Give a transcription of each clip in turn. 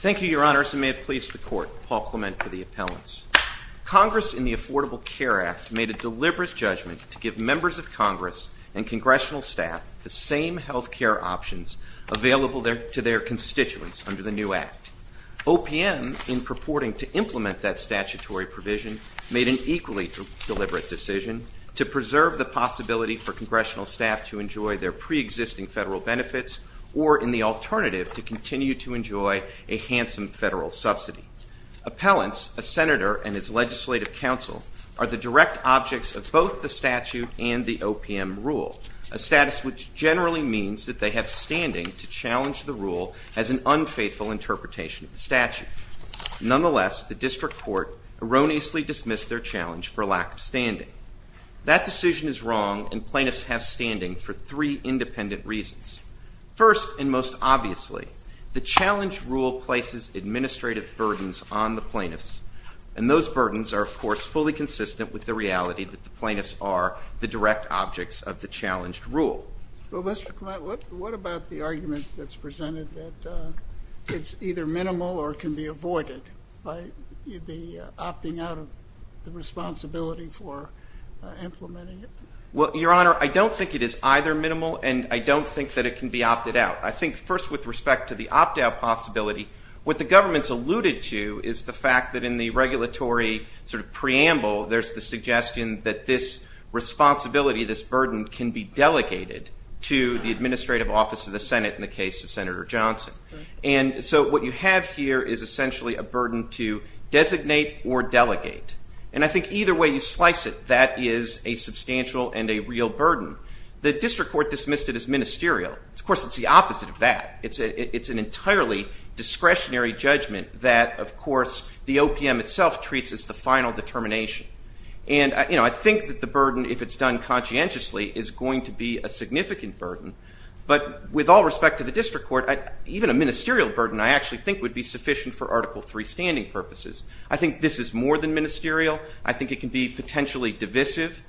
Thank you, Your Honors, and may it please the Court, Paul Clement for the appellants. Congress in the Affordable Care Act made a deliberate judgment to give members of Congress and Congressional staff the same health care options available to their constituents under the new act. OPM, in purporting to implement that statutory provision, made an equally deliberate decision to preserve the possibility for Congressional staff to enjoy their pre-existing federal benefits or, in the alternative, to continue to enjoy a handsome federal subsidy. Appellants, a senator and his legislative counsel, are the direct objects of both the statute and the OPM rule, a status which generally means that they have standing to challenge the rule as an unfaithful interpretation of the statute. Nonetheless, the District Court erroneously dismissed their challenge for lack of standing. That decision is wrong and plaintiffs have standing for three independent reasons. First, and most obviously, the challenge rule places administrative burdens on the plaintiffs, and those burdens are, of course, fully consistent with the reality that the plaintiffs are the direct objects of the challenged rule. Well, Mr. Clement, what about the argument that's presented that it's either minimal or can be avoided by the opting out of the responsibility for implementing it? Well, Your Honor, I don't think it is either minimal and I don't think that it can be opted out. I think, first, with respect to the opt-out possibility, what the government's alluded to is the fact that in the regulatory sort of preamble, there's the suggestion that this administrative office of the Senate in the case of Senator Johnson. And so what you have here is essentially a burden to designate or delegate. And I think either way you slice it, that is a substantial and a real burden. The District Court dismissed it as ministerial. Of course, it's the opposite of that. It's an entirely discretionary judgment that, of course, the OPM itself treats as the final determination. And I think that the burden, if it's done conscientiously, is going to be a significant burden. But with all respect to the District Court, even a ministerial burden, I actually think, would be sufficient for Article III standing purposes. I think this is more than ministerial. I think it can be potentially divisive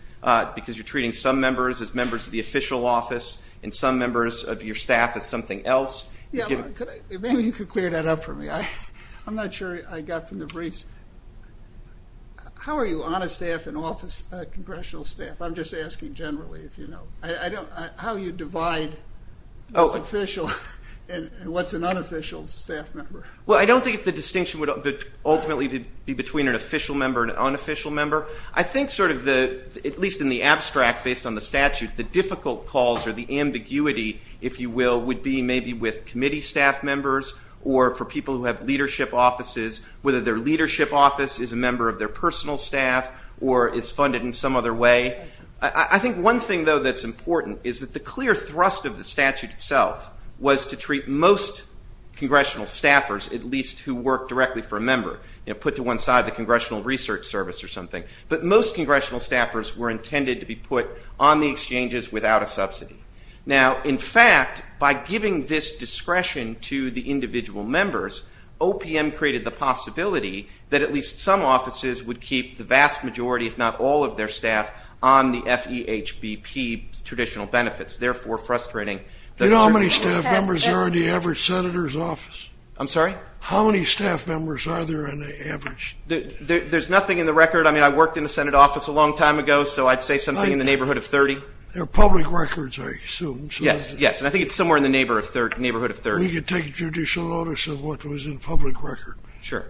because you're treating some members as members of the official office and some members of your staff as something else. Yeah, maybe you could clear that up for me. I'm not sure I got from the briefs. How are you on a staff and off a congressional staff? I'm just asking generally, if you know. How you divide what's official and what's an unofficial staff member? Well, I don't think the distinction would ultimately be between an official member and an unofficial member. I think, at least in the abstract, based on the statute, the difficult calls or the ambiguity, if you will, would be maybe with committee staff members or for people who have leadership offices, whether their leadership office is a member of their personal staff or is funded in some other way. I think one thing, though, that's important is that the clear thrust of the statute itself was to treat most congressional staffers, at least who work directly for a member, put to one side the Congressional Research Service or something. But most congressional staffers were intended to be put on the exchanges without a subsidy. Now, in fact, by giving this discretion to the individual members, OPM created the possibility that at least some offices would keep the vast majority, if not all of their staff, on the FEHBP traditional benefits, therefore frustrating the Do you know how many staff members are in the average senator's office? I'm sorry? How many staff members are there on the average? There's nothing in the record. I mean, I worked in the Senate office a long time ago, so I'd say something in the neighborhood of 30. They're public records, I assume. Yes, yes. And I think it's somewhere in the neighborhood of 30. We could take judicial notice of what was in public record. Sure.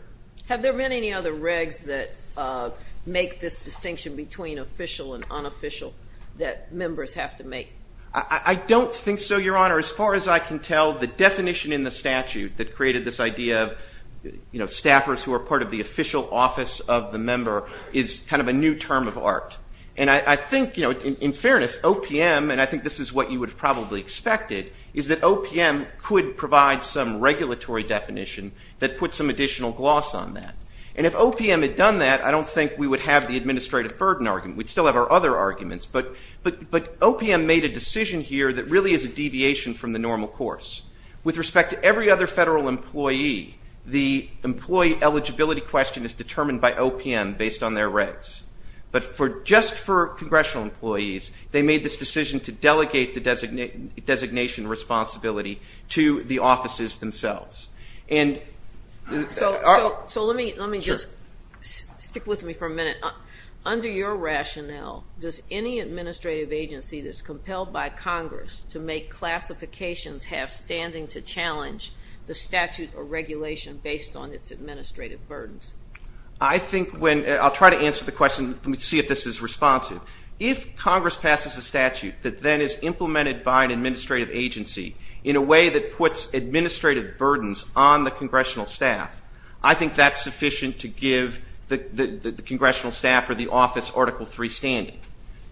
Have there been any other regs that make this distinction between official and unofficial that members have to make? I don't think so, Your Honor. As far as I can tell, the definition in the statute that created this idea of staffers who are part of the official office of the member is kind of a new term of art. And I think, in fairness, OPM, and I think this is what you would have probably expected, is that OPM could provide some regulatory definition that puts some additional gloss on that. And if OPM had done that, I don't think we would have the administrative burden argument. We'd still have our other arguments. But OPM made a decision here that really is a deviation from the normal course. With respect to every other federal employee, the employee eligibility question is determined by OPM based on their regs. But just for congressional employees, they made this decision to delegate the designation responsibility to the offices themselves. So let me just stick with me for a minute. Under your rationale, does any administrative agency that's compelled by Congress to make classifications have standing to challenge the statute or regulation based on its administrative burdens? I'll try to answer the question and see if this is responsive. If Congress passes a statute that then is implemented by an administrative agency in a way that puts administrative burdens on the congressional staff, I think that's sufficient to give the congressional staff or the office Article III standing.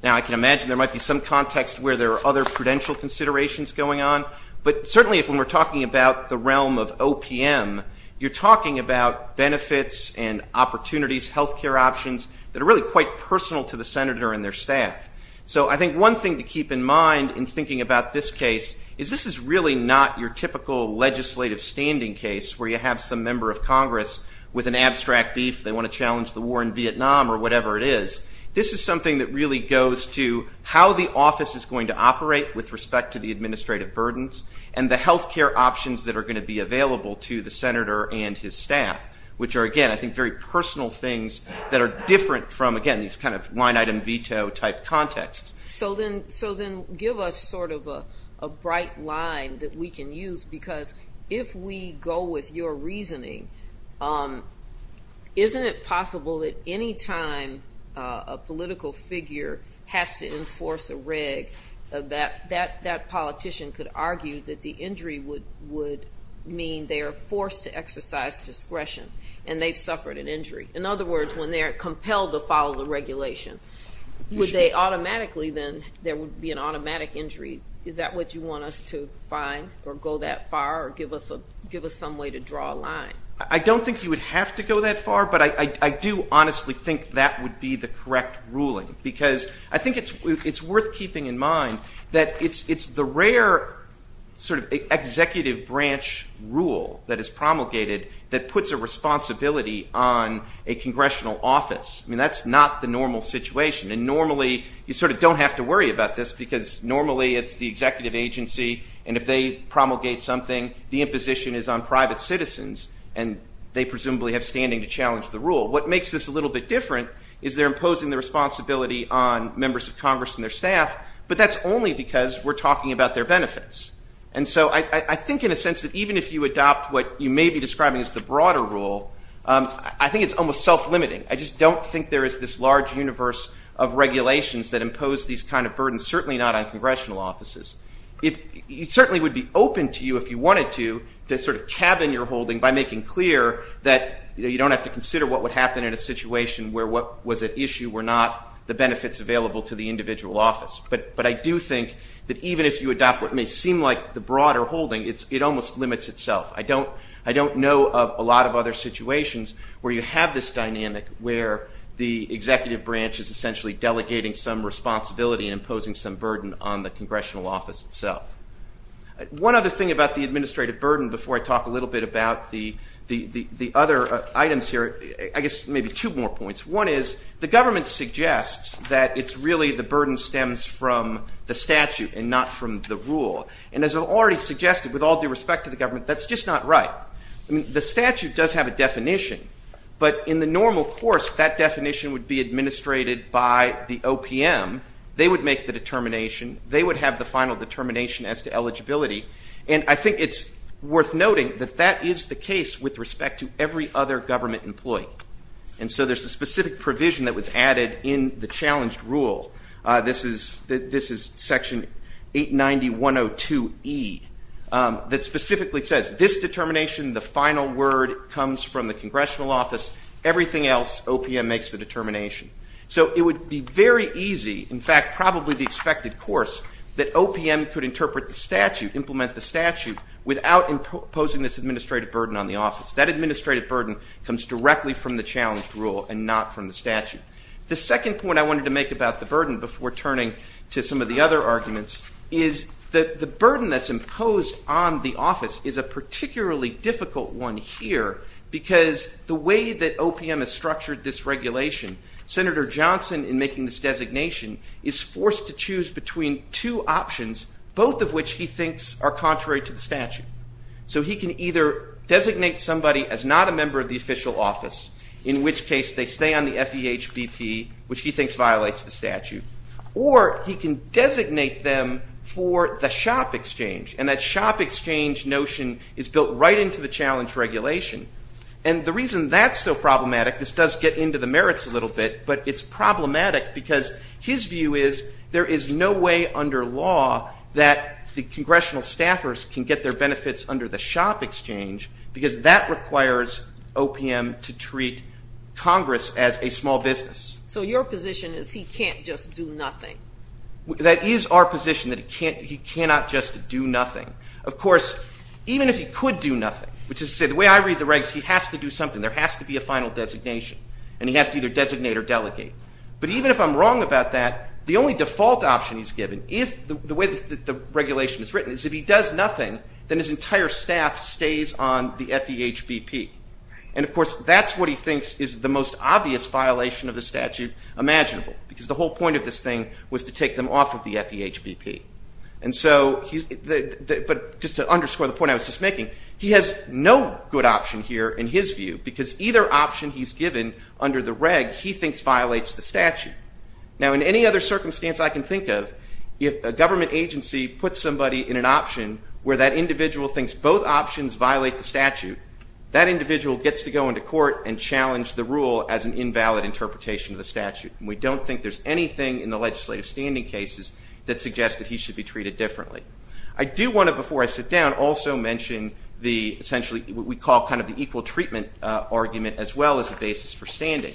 Now, I can imagine there might be some context where there are other prudential considerations going on. But certainly, if when we're talking about the realm of OPM, you're talking about benefits and opportunities, health care options that are really quite personal to the senator and their staff. So I think one thing to keep in mind in thinking about this case is this is really not your typical legislative standing case where you have some member of Congress with an abstract beef. They want to challenge the war in Vietnam or whatever it is. This is something that really goes to how the office is going to operate with respect to the administrative burdens and the health care options that are going to be available to the senator and his staff, which are, again, I think very personal things that are different from, again, these kind of line item veto type contexts. So then give us sort of a bright line that we can use. Because if we go with your reasoning, isn't it possible that any time a political figure has to enforce a reg, that that politician could argue that the injury would mean they are forced to exercise discretion and they've compelled to follow the regulation. Would they automatically then, there would be an automatic injury. Is that what you want us to find or go that far or give us some way to draw a line? I don't think you would have to go that far, but I do honestly think that would be the correct ruling. Because I think it's worth keeping in mind that it's the rare sort of executive branch rule that is promulgated that puts a responsibility on a congressional office. I mean, that's not the normal situation. And normally, you sort of don't have to worry about this because normally it's the executive agency. And if they promulgate something, the imposition is on private citizens. And they presumably have standing to challenge the rule. What makes this a little bit different is they're imposing the responsibility on members of Congress and their staff. But that's only because we're talking about their benefits. And so I think in a sense that even if you adopt what you may be describing as the broader rule, I think it's almost self-limiting. I just don't think there is this large universe of regulations that impose these kind of burdens, certainly not on congressional offices. It certainly would be open to you if you wanted to sort of cabin your holding by making clear that you don't have to consider what would happen in a situation where what was at issue were not the benefits available to the individual office. But I do think that even if you adopt what may seem like the broader holding, it almost limits itself. I don't know of a lot of other situations where you have this dynamic where the executive branch is essentially delegating some responsibility and imposing some burden on the congressional office itself. One other thing about the administrative burden before I talk a little bit about the other items here, I guess maybe two more points. One is the government suggests that it's really the burden stems from the statute and not from the rule. And as I've already suggested, with all due respect to the government, that's just not right. The statute does have a definition, but in the normal course, that definition would be administrated by the OPM. They would make the determination. They would have the final determination as to eligibility. And I think it's worth noting that that is the case with respect to every other government employee. And so there's a specific provision that was added in the challenged rule. This is section 890.102E that specifically says, this determination, the final word comes from the congressional office. Everything else, OPM makes the determination. So it would be very easy, in fact, probably the expected course, that OPM could interpret the statute, implement the statute without imposing this administrative burden on the office. That administrative burden comes directly from the challenged rule and not from the statute. The second point I wanted to make about the burden before turning to some of the other arguments is that the burden that's imposed on the office is a particularly difficult one here because the way that OPM has structured this regulation, Senator Johnson, in making this designation, is forced to choose between two options, both of which he thinks are contrary to the statute. So he can either designate somebody as not a member of the official office, in which case they stay on the FEHBP, which he thinks violates the statute, or he can designate them for the shop exchange. And that shop exchange notion is built right into the challenge regulation. And the reason that's so problematic, this does get into the merits a little bit, but it's problematic because his view is there is no way under law that the congressional staffers can get their benefits under the shop exchange because that requires OPM to treat Congress as a small business. So your position is he can't just do nothing? That is our position, that he cannot just do nothing. Of course, even if he could do nothing, which is to say the way I read the regs, he has to do something, there has to be a final designation, and he has to either designate or delegate. But even if I'm wrong about that, the only default option he's given, the way that the regulation is written, is if he does nothing, then his entire staff stays on the FEHBP. And of course that's what he thinks is the most obvious violation of the statute imaginable, because the whole point of this thing was to take them off of the FEHBP. And so, just to underscore the point I was just making, he has no good option here in his view, because either option he's given under the reg, he thinks violates the statute. Now in any other circumstance I can think of, if a government agency puts somebody in an option where that individual thinks both options violate the statute, that individual gets to go into court and challenge the rule as an invalid interpretation of the statute. And we don't think there's anything in the legislative standing cases that suggests that he should be treated differently. I do want to, before I sit down, also mention the, essentially what we call kind of the equal treatment argument as well as the basis for standing.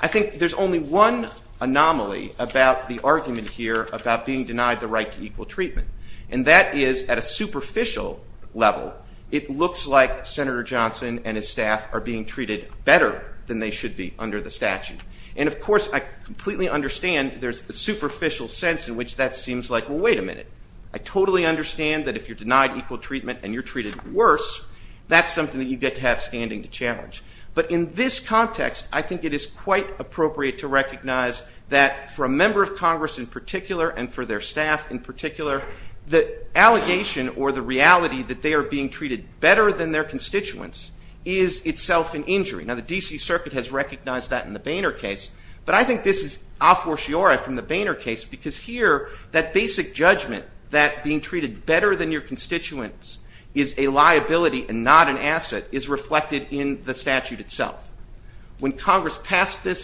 I think there's only one anomaly about the argument here about being denied the right to equal treatment. And that is, at a superficial level, it looks like Senator Johnson and his staff are being treated better than they should be under the statute. And of course, I completely understand there's a superficial sense in which that seems like, well, wait a minute. I totally understand that if you're denied equal treatment and you're treated worse, that's something that you get to have standing to challenge. But in this context, I think it is quite appropriate to recognize that for a member of Congress in particular and for their staff in particular, the allegation or the reality that they are being treated better than their constituents is itself an injury. Now, the D.C. Circuit has recognized that in the Boehner case, but I think this is a fortiori from the Boehner case because here, that basic judgment that being treated better than your constituents is a liability and not an asset is reflected in the statute that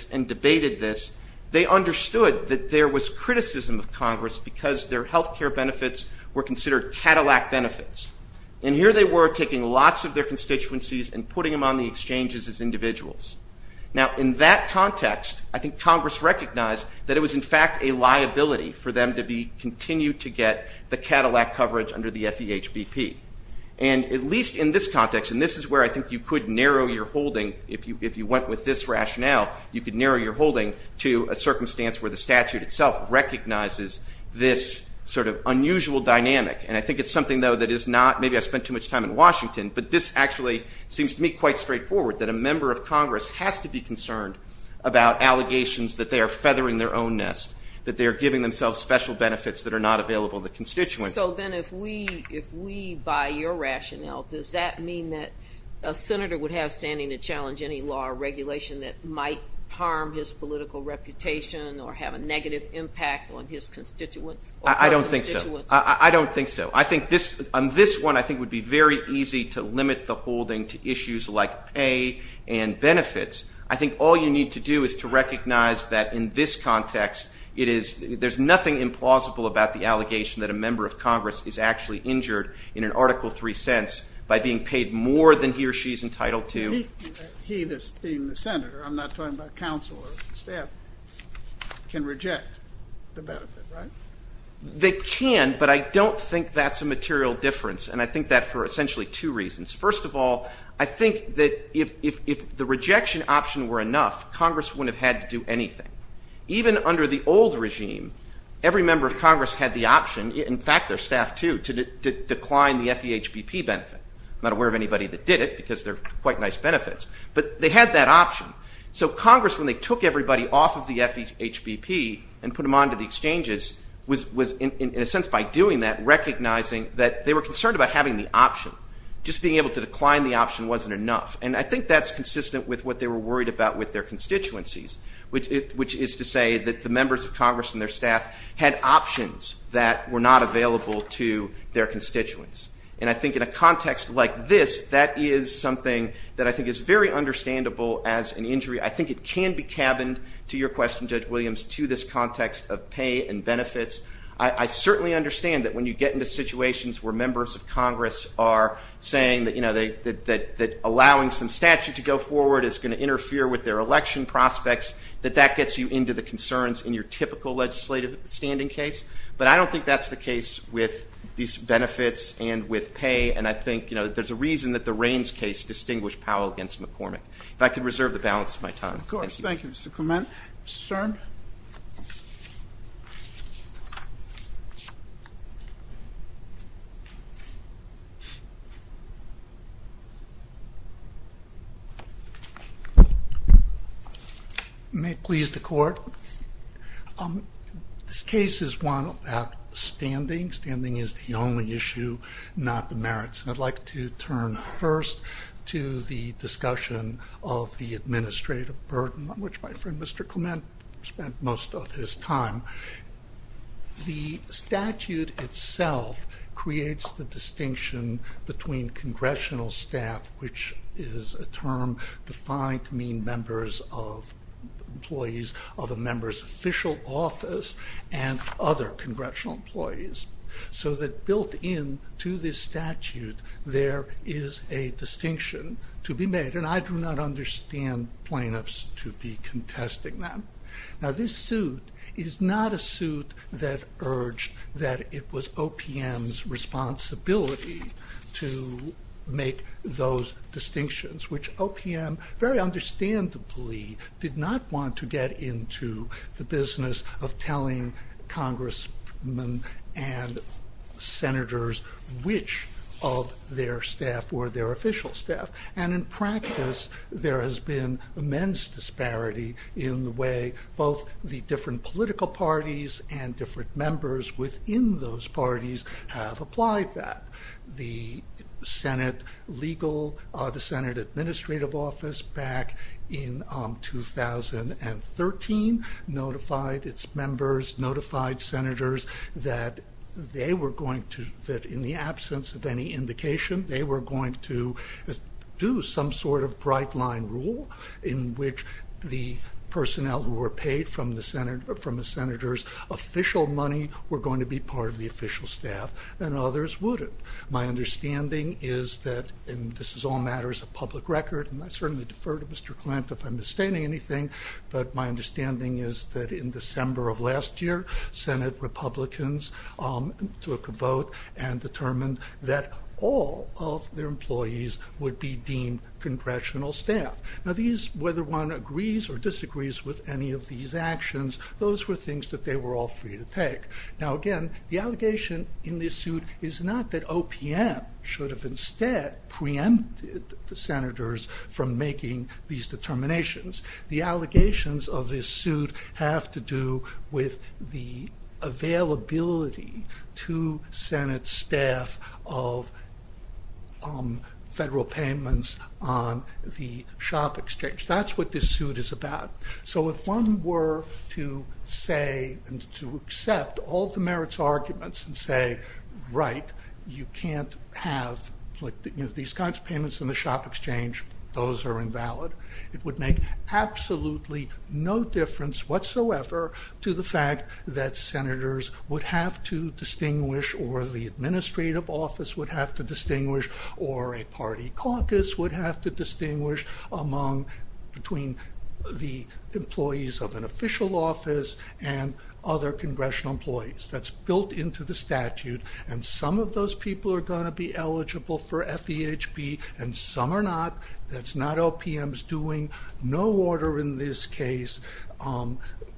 stated this, they understood that there was criticism of Congress because their health care benefits were considered Cadillac benefits. And here they were taking lots of their constituencies and putting them on the exchanges as individuals. Now, in that context, I think Congress recognized that it was, in fact, a liability for them to continue to get the Cadillac coverage under the FEHBP. And at least in this context, and this is where I think you could narrow your rationale, you could narrow your holding to a circumstance where the statute itself recognizes this sort of unusual dynamic. And I think it is something, though, that is not maybe I spent too much time in Washington, but this actually seems to me quite straightforward that a member of Congress has to be concerned about allegations that they are feathering their own nest, that they are giving themselves special benefits that are not available to constituents. So then if we, if we, by your rationale, does that mean that a senator would have standing to challenge any law or regulation that might harm his political reputation or have a negative impact on his constituents? I don't think so. I don't think so. I think this, on this one, I think would be very easy to limit the holding to issues like pay and benefits. I think all you need to do is to recognize that in this context, it is, there's nothing implausible about the allegation that a member of Congress is actually injured in Article 3 sense by being paid more than he or she is entitled to. He, this being the senator, I'm not talking about counsel or staff, can reject the benefit, right? They can, but I don't think that's a material difference. And I think that for essentially two reasons. First of all, I think that if, if, if the rejection option were enough, Congress wouldn't have had to do anything. Even under the old regime, every member of Congress had the option, in fact their staff too, to decline the FEHBP benefit. I'm not aware of anybody that did it because they're quite nice benefits, but they had that option. So Congress, when they took everybody off of the FEHBP and put them onto the exchanges, was, was in a sense by doing that, recognizing that they were concerned about having the option. Just being able to decline the option wasn't enough. And I think that's consistent with what they were worried about with their constituencies, which, which is to say that the members of that were not available to their constituents. And I think in a context like this, that is something that I think is very understandable as an injury. I think it can be cabined to your question, Judge Williams, to this context of pay and benefits. I, I certainly understand that when you get into situations where members of Congress are saying that, you know, that, that, that allowing some statute to go forward is going to interfere with their election prospects, that that gets you into the concerns in your typical legislative standing case. But I don't think that's the case with these benefits and with pay. And I think, you know, there's a reason that the Raines case distinguished Powell against McCormick. If I could reserve the balance of my time. Of course. Thank you, Mr. Clement. Mr. Stern? May it please the Court. This case is one about standing. Standing is the only issue, not the merits. And I'd like to turn first to the discussion of the administrative burden on which my friend, Mr. Clement, spent most of his time. The statute itself creates the distinction between congressional staff, which is a term defined to mean members of employees of a member's official office and other congressional employees. So that built in to this statute, there is a distinction to be made. And I do not understand plaintiffs to be contesting that. Now, this suit is not a suit that urged that it was OPM's responsibility to make those distinctions, which OPM very understandably did not want to get into the business of telling congressmen and senators which of their staff were their official staff. And in practice, there has been immense disparity in the way both the different political parties and different members within those parties have applied that. The Senate legal, the Senate administrative office back in 2013 notified its members, notified senators that they were going to, in the absence of any indication, they were going to do some sort of bright line rule in which the personnel who were paid from the senator's official money were going to be part of the official staff and others wouldn't. My understanding is that, and this is all matters of public record, and I certainly defer to Mr. Klent if I'm misstating anything, but my understanding is that in December of last year, Senate Republicans took a vote and determined that all of their employees would be deemed congressional staff. Now these, whether one agrees or disagrees with any of these actions, those were things that they were all free to take. Now again, the allegation in this suit is not that OPM should have instead preempted the senators from making these determinations. The allegations of this suit have to do with the availability to Senate staff of federal payments on the shop exchange. That's what this suit is about. So if one were to say and to accept all the merits arguments and say, right, you can't have these kinds of payments on the shop exchange, those are invalid, it would make absolutely no difference whatsoever to the fact that senators would have to distinguish or the administrative office would have to distinguish or a party caucus would have to distinguish among, between the employees of an official office and other congressional employees. That's built into the statute and some of those people are going to be eligible for FEHB and some are not. That's not OPM's doing. No order in this case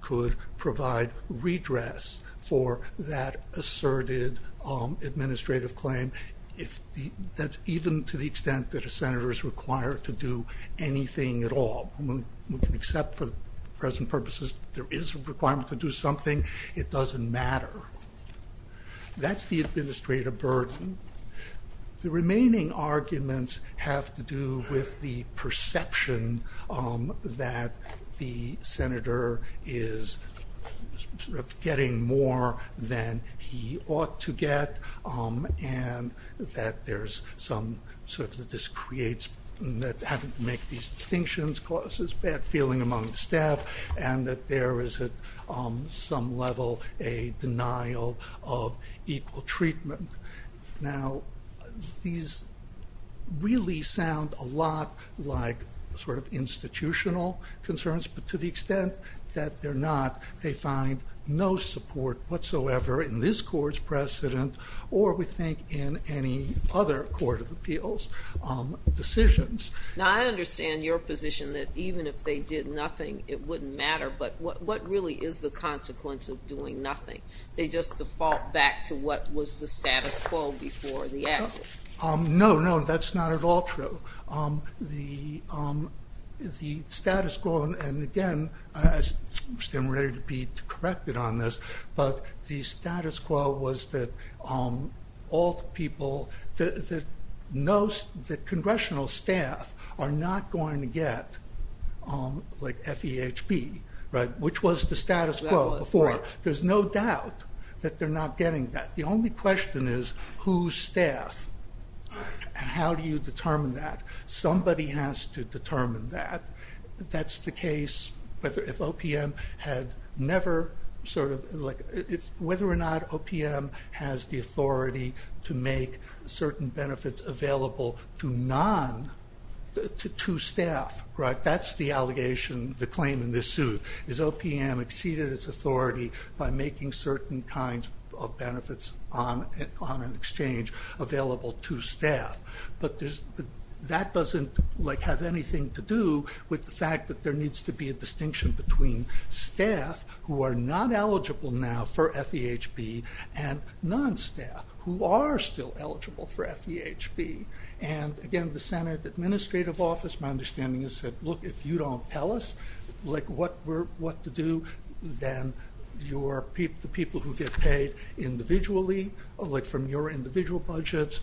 could provide redress for that asserted administrative claim. That's even to the extent that a senator is required to do anything at all. Except for present purposes, there it doesn't matter. That's the administrative burden. The remaining arguments have to do with the perception that the senator is getting more than he ought to get and that there's some sort of, that this creates, that having to make these distinctions causes bad feeling among staff and that there is at some level a denial of equal treatment. Now, these really sound a lot like sort of institutional concerns, but to the extent that they're not, they find no support whatsoever in this court's precedent or we think in any other court of appeals decisions. Now, I understand your position that even if they did nothing, it wouldn't matter, but what really is the consequence of doing nothing? They just default back to what was the status quo before the action. No, no, that's not at all true. The status quo, and again, I stand ready to be corrected on this, but the status quo was that all the people, the congressional staff are not going to get FEHB, which was the status quo before. There's no doubt that they're not getting that. The only question is whose staff, and how do you determine that? Somebody has to determine that. That's the case whether if OPM had never sort of, whether or not OPM has the authority to make a decision. Make certain benefits available to non, to staff, right? That's the allegation, the claim in this suit, is OPM exceeded its authority by making certain kinds of benefits on an exchange available to staff, but that doesn't have anything to do with the fact that there needs to be a distinction between staff who are not eligible now for FEHB and non-staff who are still eligible for FEHB, and again, the Senate Administrative Office, my understanding is that, look, if you don't tell us what to do, then the people who get paid individually, like from your individual budgets,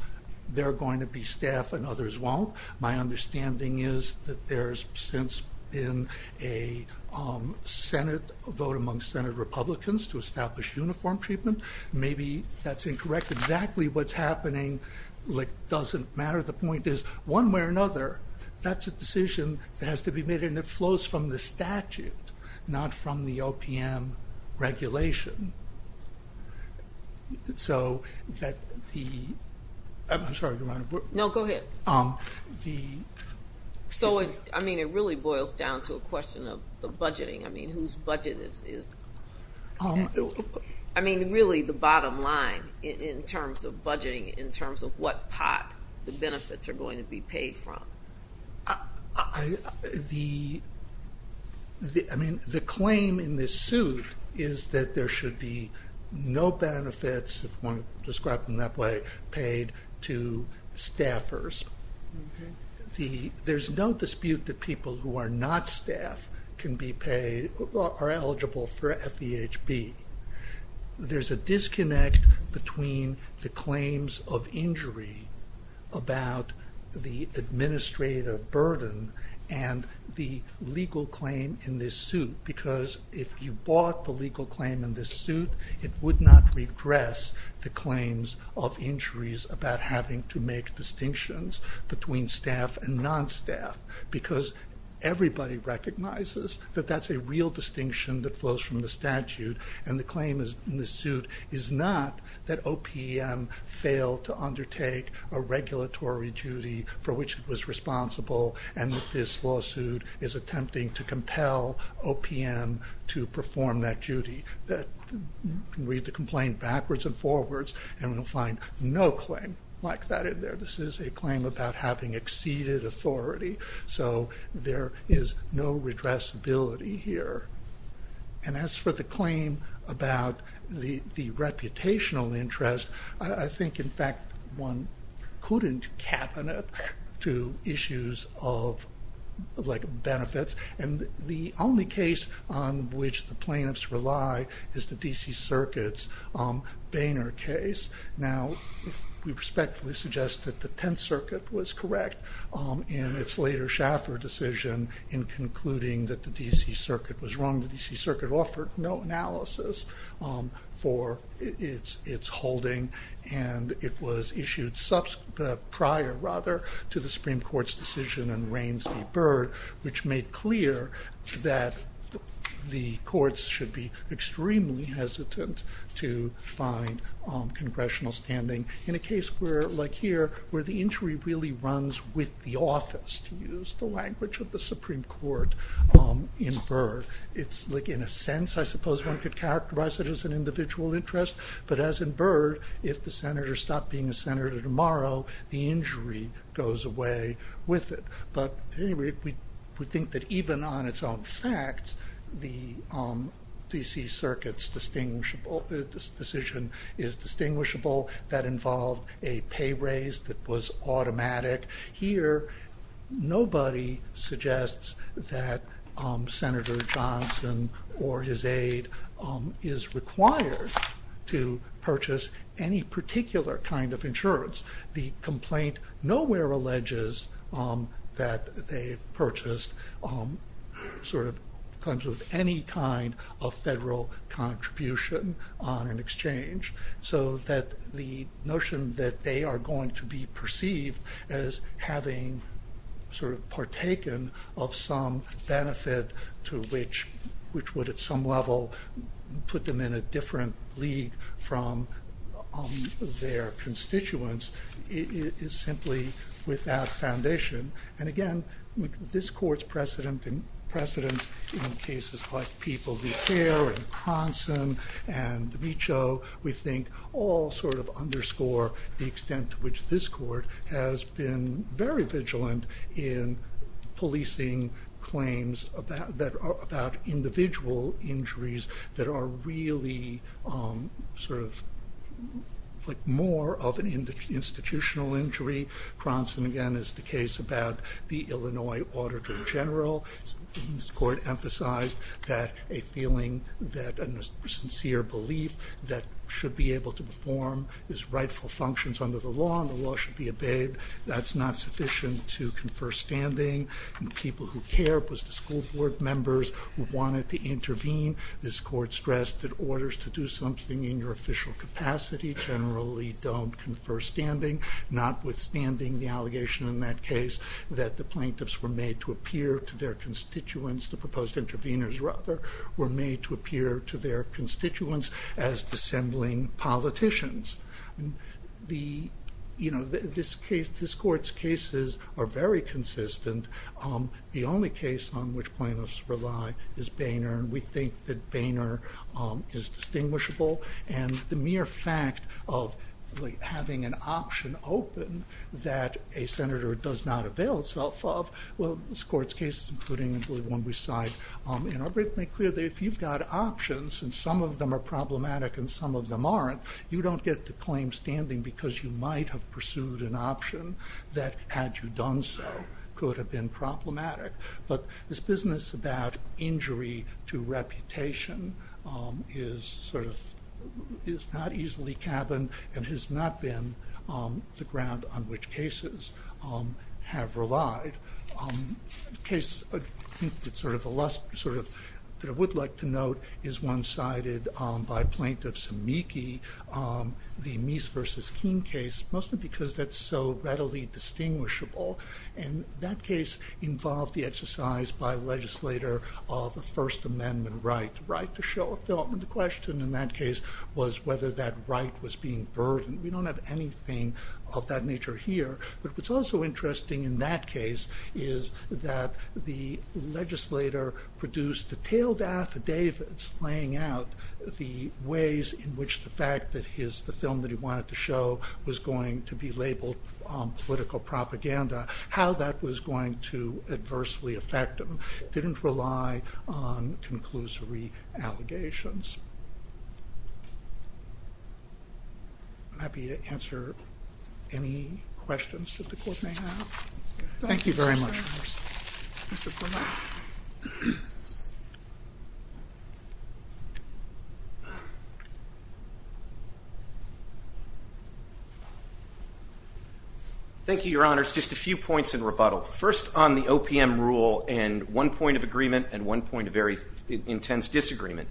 they're going to be staff and others won't. My understanding is that there's since been a Senate vote among Senate Republicans to establish uniform treatment. Maybe that's incorrect. Exactly what's happening, like doesn't matter. The point is, one way or another, that's a decision that has to be made and it flows from the statute, not from the OPM regulation. So that the, I'm sorry, Your Honor. No, go ahead. The... So it, I mean, it really boils down to a question of the budgeting. I mean, whose budget is... I mean, really the bottom line in terms of budgeting, in terms of what pot the benefits are going to be paid from. The, I mean, the claim in this suit is that there should be no benefits, if one describes them that way, paid to staffers. There's no dispute that people who are not staff can be paid, are eligible for FEHB. There's a disconnect between the claims of injury about the administrative burden and the legal claim in this suit, because if you bought the legal claim in this suit, it would not regress the claims of injuries about having to make distinctions between staff and non-staff, because everybody recognizes that that's a real distinction that flows from the statute, and the claim in this suit is not that OPM failed to undertake a regulatory duty for which it was responsible, and that this lawsuit is attempting to compel OPM to perform that duty, that we have to complain backwards and forwards, and we'll find no claim like that in there. This is a claim about having exceeded authority, so there is no redressability here. And as for the claim about the reputational interest, I think, in fact, one couldn't cabinet to issues of, like, benefits, and the only case on which the plaintiffs rely is the D.C. Circuit. Now, we respectfully suggest that the Tenth Circuit was correct in its later Schaffer decision in concluding that the D.C. Circuit was wrong. The D.C. Circuit offered no analysis for its holding, and it was issued prior, rather, to the Supreme Court's decision in Rains v. Byrd, which made clear that the courts should be extremely hesitant to find congressional standing in a case like here, where the injury really runs with the office, to use the language of the Supreme Court in Byrd. It's, like, in a sense, I suppose one could characterize it as an individual interest, but as in Byrd, if the senator stopped being a senator tomorrow, the injury goes away with it. But, at any rate, we think that even on a case that was distinguishable, that involved a pay raise that was automatic, here, nobody suggests that Senator Johnson or his aide is required to purchase any particular kind of insurance. The complaint nowhere alleges that they've purchased, sort of, comes with any kind of federal contribution on an exchange, so that the notion that they are going to be perceived as having, sort of, partaken of some benefit to which would, at some level, put them in a different league from their constituents is simply without foundation. And again, this court's precedent in cases like People v. Care and Cronson and DiMiccio, we think all, sort of, underscore the extent to which this court has been very vigilant in policing claims about individual injuries that are really, sort of, more of an institutional injury. Cronson, again, is the case about the Illinois Auditor General. This court emphasized that a feeling that a sincere belief that should be able to perform his rightful functions under the law and the law should be obeyed, that's not sufficient to confer standing. People v. Care was the school board members who wanted to intervene. This court stressed that orders to do something in your official capacity generally don't confer standing, notwithstanding the allegation in that case that the plaintiffs were made to appear to their constituents, the proposed interveners, rather, were made to appear to their constituents as dissembling politicians. You know, this court's cases are very consistent. The only case on which plaintiffs rely is Boehner, and we think that Boehner is distinguishable, and the mere fact of having an option open that a senator does not avail itself of, well, this court's cases, including, I believe, one we cite, are very clear that if you've got options, and some of them are problematic and some of them aren't, you don't get to claim standing because you might have pursued an option that, had you done so, could have been problematic. But this business about injury to reputation is not easily cabined and has not been the ground on which cases have relied. A case that I would like to note is one cited by Plaintiff Sumiki, the Meese v. Keene case, mostly because that's so readily distinguishable, and that case involved the exercise by a legislator of a First Amendment right, the right to show a film, and the question in that case was whether that right was being burdened. We don't have anything of that nature here, but what's also interesting in that case is that the legislator produced detailed affidavits laying out the ways in which the film that he wanted to show was going to be labeled political propaganda, how that was going to adversely affect him. It didn't rely on conclusory allegations. I'm happy to answer any questions that the court may have. Thank you very much. Thank you, Your Honors. Just a few points in rebuttal. First on the OPM rule and one point of agreement and one point of very intense disagreement.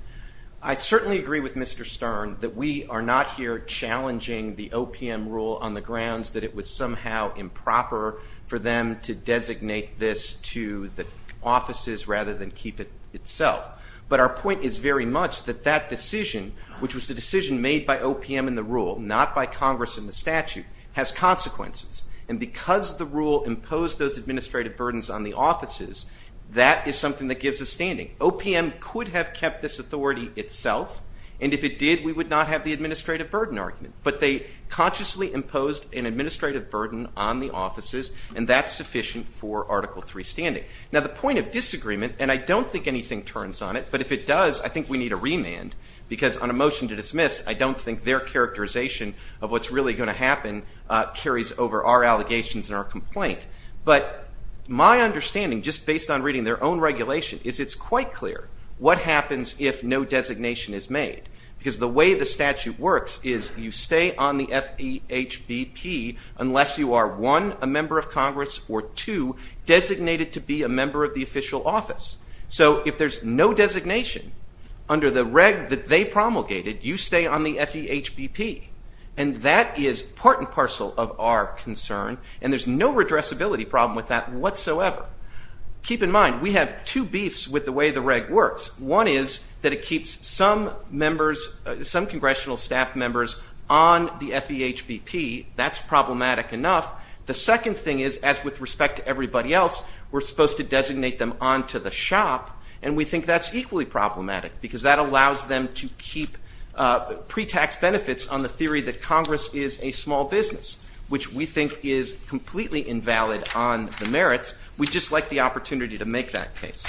I certainly agree with Mr. Stern that we are not here challenging the OPM rule on the grounds that it was somehow improper for them to designate this to the offices rather than keep it itself. But our point is very much that that decision, which was the decision made by OPM and the rule, not by Congress and the statute, has consequences. And because the rule imposed those administrative burdens on the offices, that is something that gives us standing. OPM could have kept this authority itself, and if it did, we would not have the administrative burden argument. But they consciously imposed an administrative burden on the offices, and that's sufficient for Article III standing. Now the point of disagreement, and I don't think anything turns on it, but if it does, I think we need a remand. Because on a motion to dismiss, I don't think their characterization of what's really going to happen carries over our allegations and our complaint. But my understanding, just based on reading their own regulation, is it's quite clear what happens if no designation is made. Because the way the statute works is you stay on the FEHBP unless you are, one, a member of Congress, or two, designated to Congress. If there's no designation under the reg that they promulgated, you stay on the FEHBP. And that is part and parcel of our concern, and there's no redressability problem with that whatsoever. Keep in mind, we have two beefs with the way the reg works. One is that it keeps some members, some congressional staff members on the FEHBP. That's problematic enough. The second thing is, as with respect to everybody else, we're supposed to designate them on to the shop, and we think that's equally problematic because that allows them to keep pre-tax benefits on the theory that Congress is a small business, which we think is completely invalid on the merits. We'd just like the opportunity to make that case.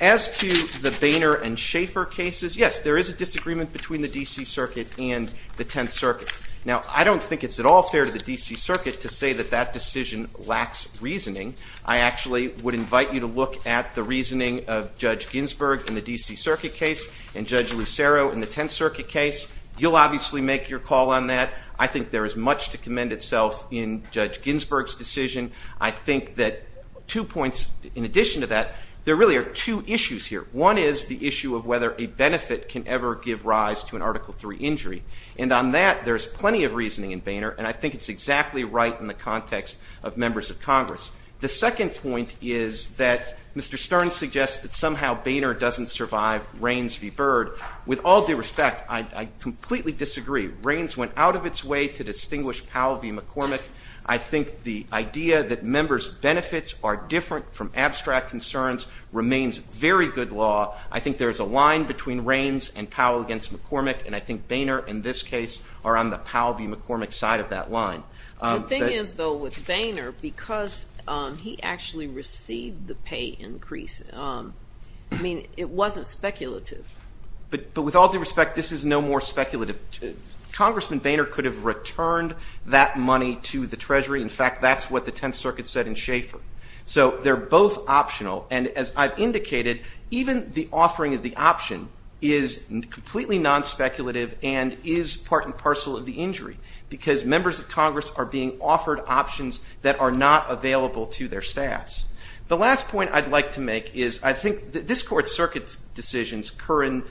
As to the Boehner and Schaefer cases, yes, there is a disagreement between the D.C. Circuit and the Tenth Circuit. Now, I don't think it's at all fair to the D.C. Circuit to say that that decision lacks reasoning. I actually would invite you to look at the reasoning of Judge Ginsburg in the D.C. Circuit case and Judge Lucero in the Tenth Circuit case. You'll obviously make your call on that. I think there is much to commend itself in Judge Ginsburg's decision. I think that two points in addition to that, there really are two issues here. One is the issue of whether a benefit can ever give rise to an Article III injury. And on that, there's plenty of reasoning in Boehner, and I think it's exactly right in the context of members of Congress. The second point is that Mr. Stern suggests that somehow Boehner doesn't survive Rains v. Byrd. With all due respect, I completely disagree. Rains went out of its way to distinguish Powell v. McCormick. I think the idea that members' benefits are different from abstract concerns remains very good law. I think there is a line between Rains and Powell against McCormick, and I think Boehner in this case are on the Powell v. McCormick side of that line. The thing is, though, with Boehner, because he actually received the pay increase, I mean, it wasn't speculative. But with all due respect, this is no more speculative. Congressman Boehner could have returned that money to the Treasury. In fact, that's what the Tenth Circuit said in Schaefer. So they're both optional, and as I've indicated, even the offering of the option is completely non-speculative and is part and parcel of the injury, because members of Congress are being offered options that are not available to their staffs. The last point I'd like to make is I think this Court's circuit decisions, Curran,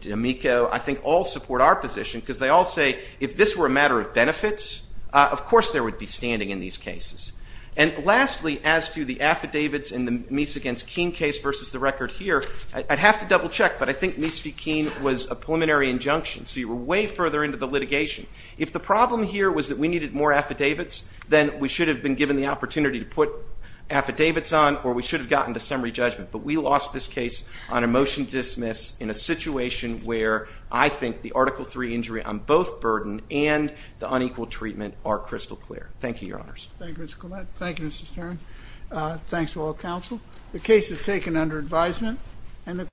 D'Amico, I think all support our position, because they all say if this were a matter of benefits, of course there would be standing in these cases. And lastly, as to the affidavits in the Meese v. Keene case versus the record here, I'd So you were way further into the litigation. If the problem here was that we needed more affidavits, then we should have been given the opportunity to put affidavits on, or we should have gotten to summary judgment. But we lost this case on a motion to dismiss in a situation where I think the Article III injury on both burden and the unequal treatment are crystal clear. Thank you, Your Honors. Thank you, Mr. Collette. Thank you, Mr. Stern. Thanks to all counsel. The case is taken under advisement.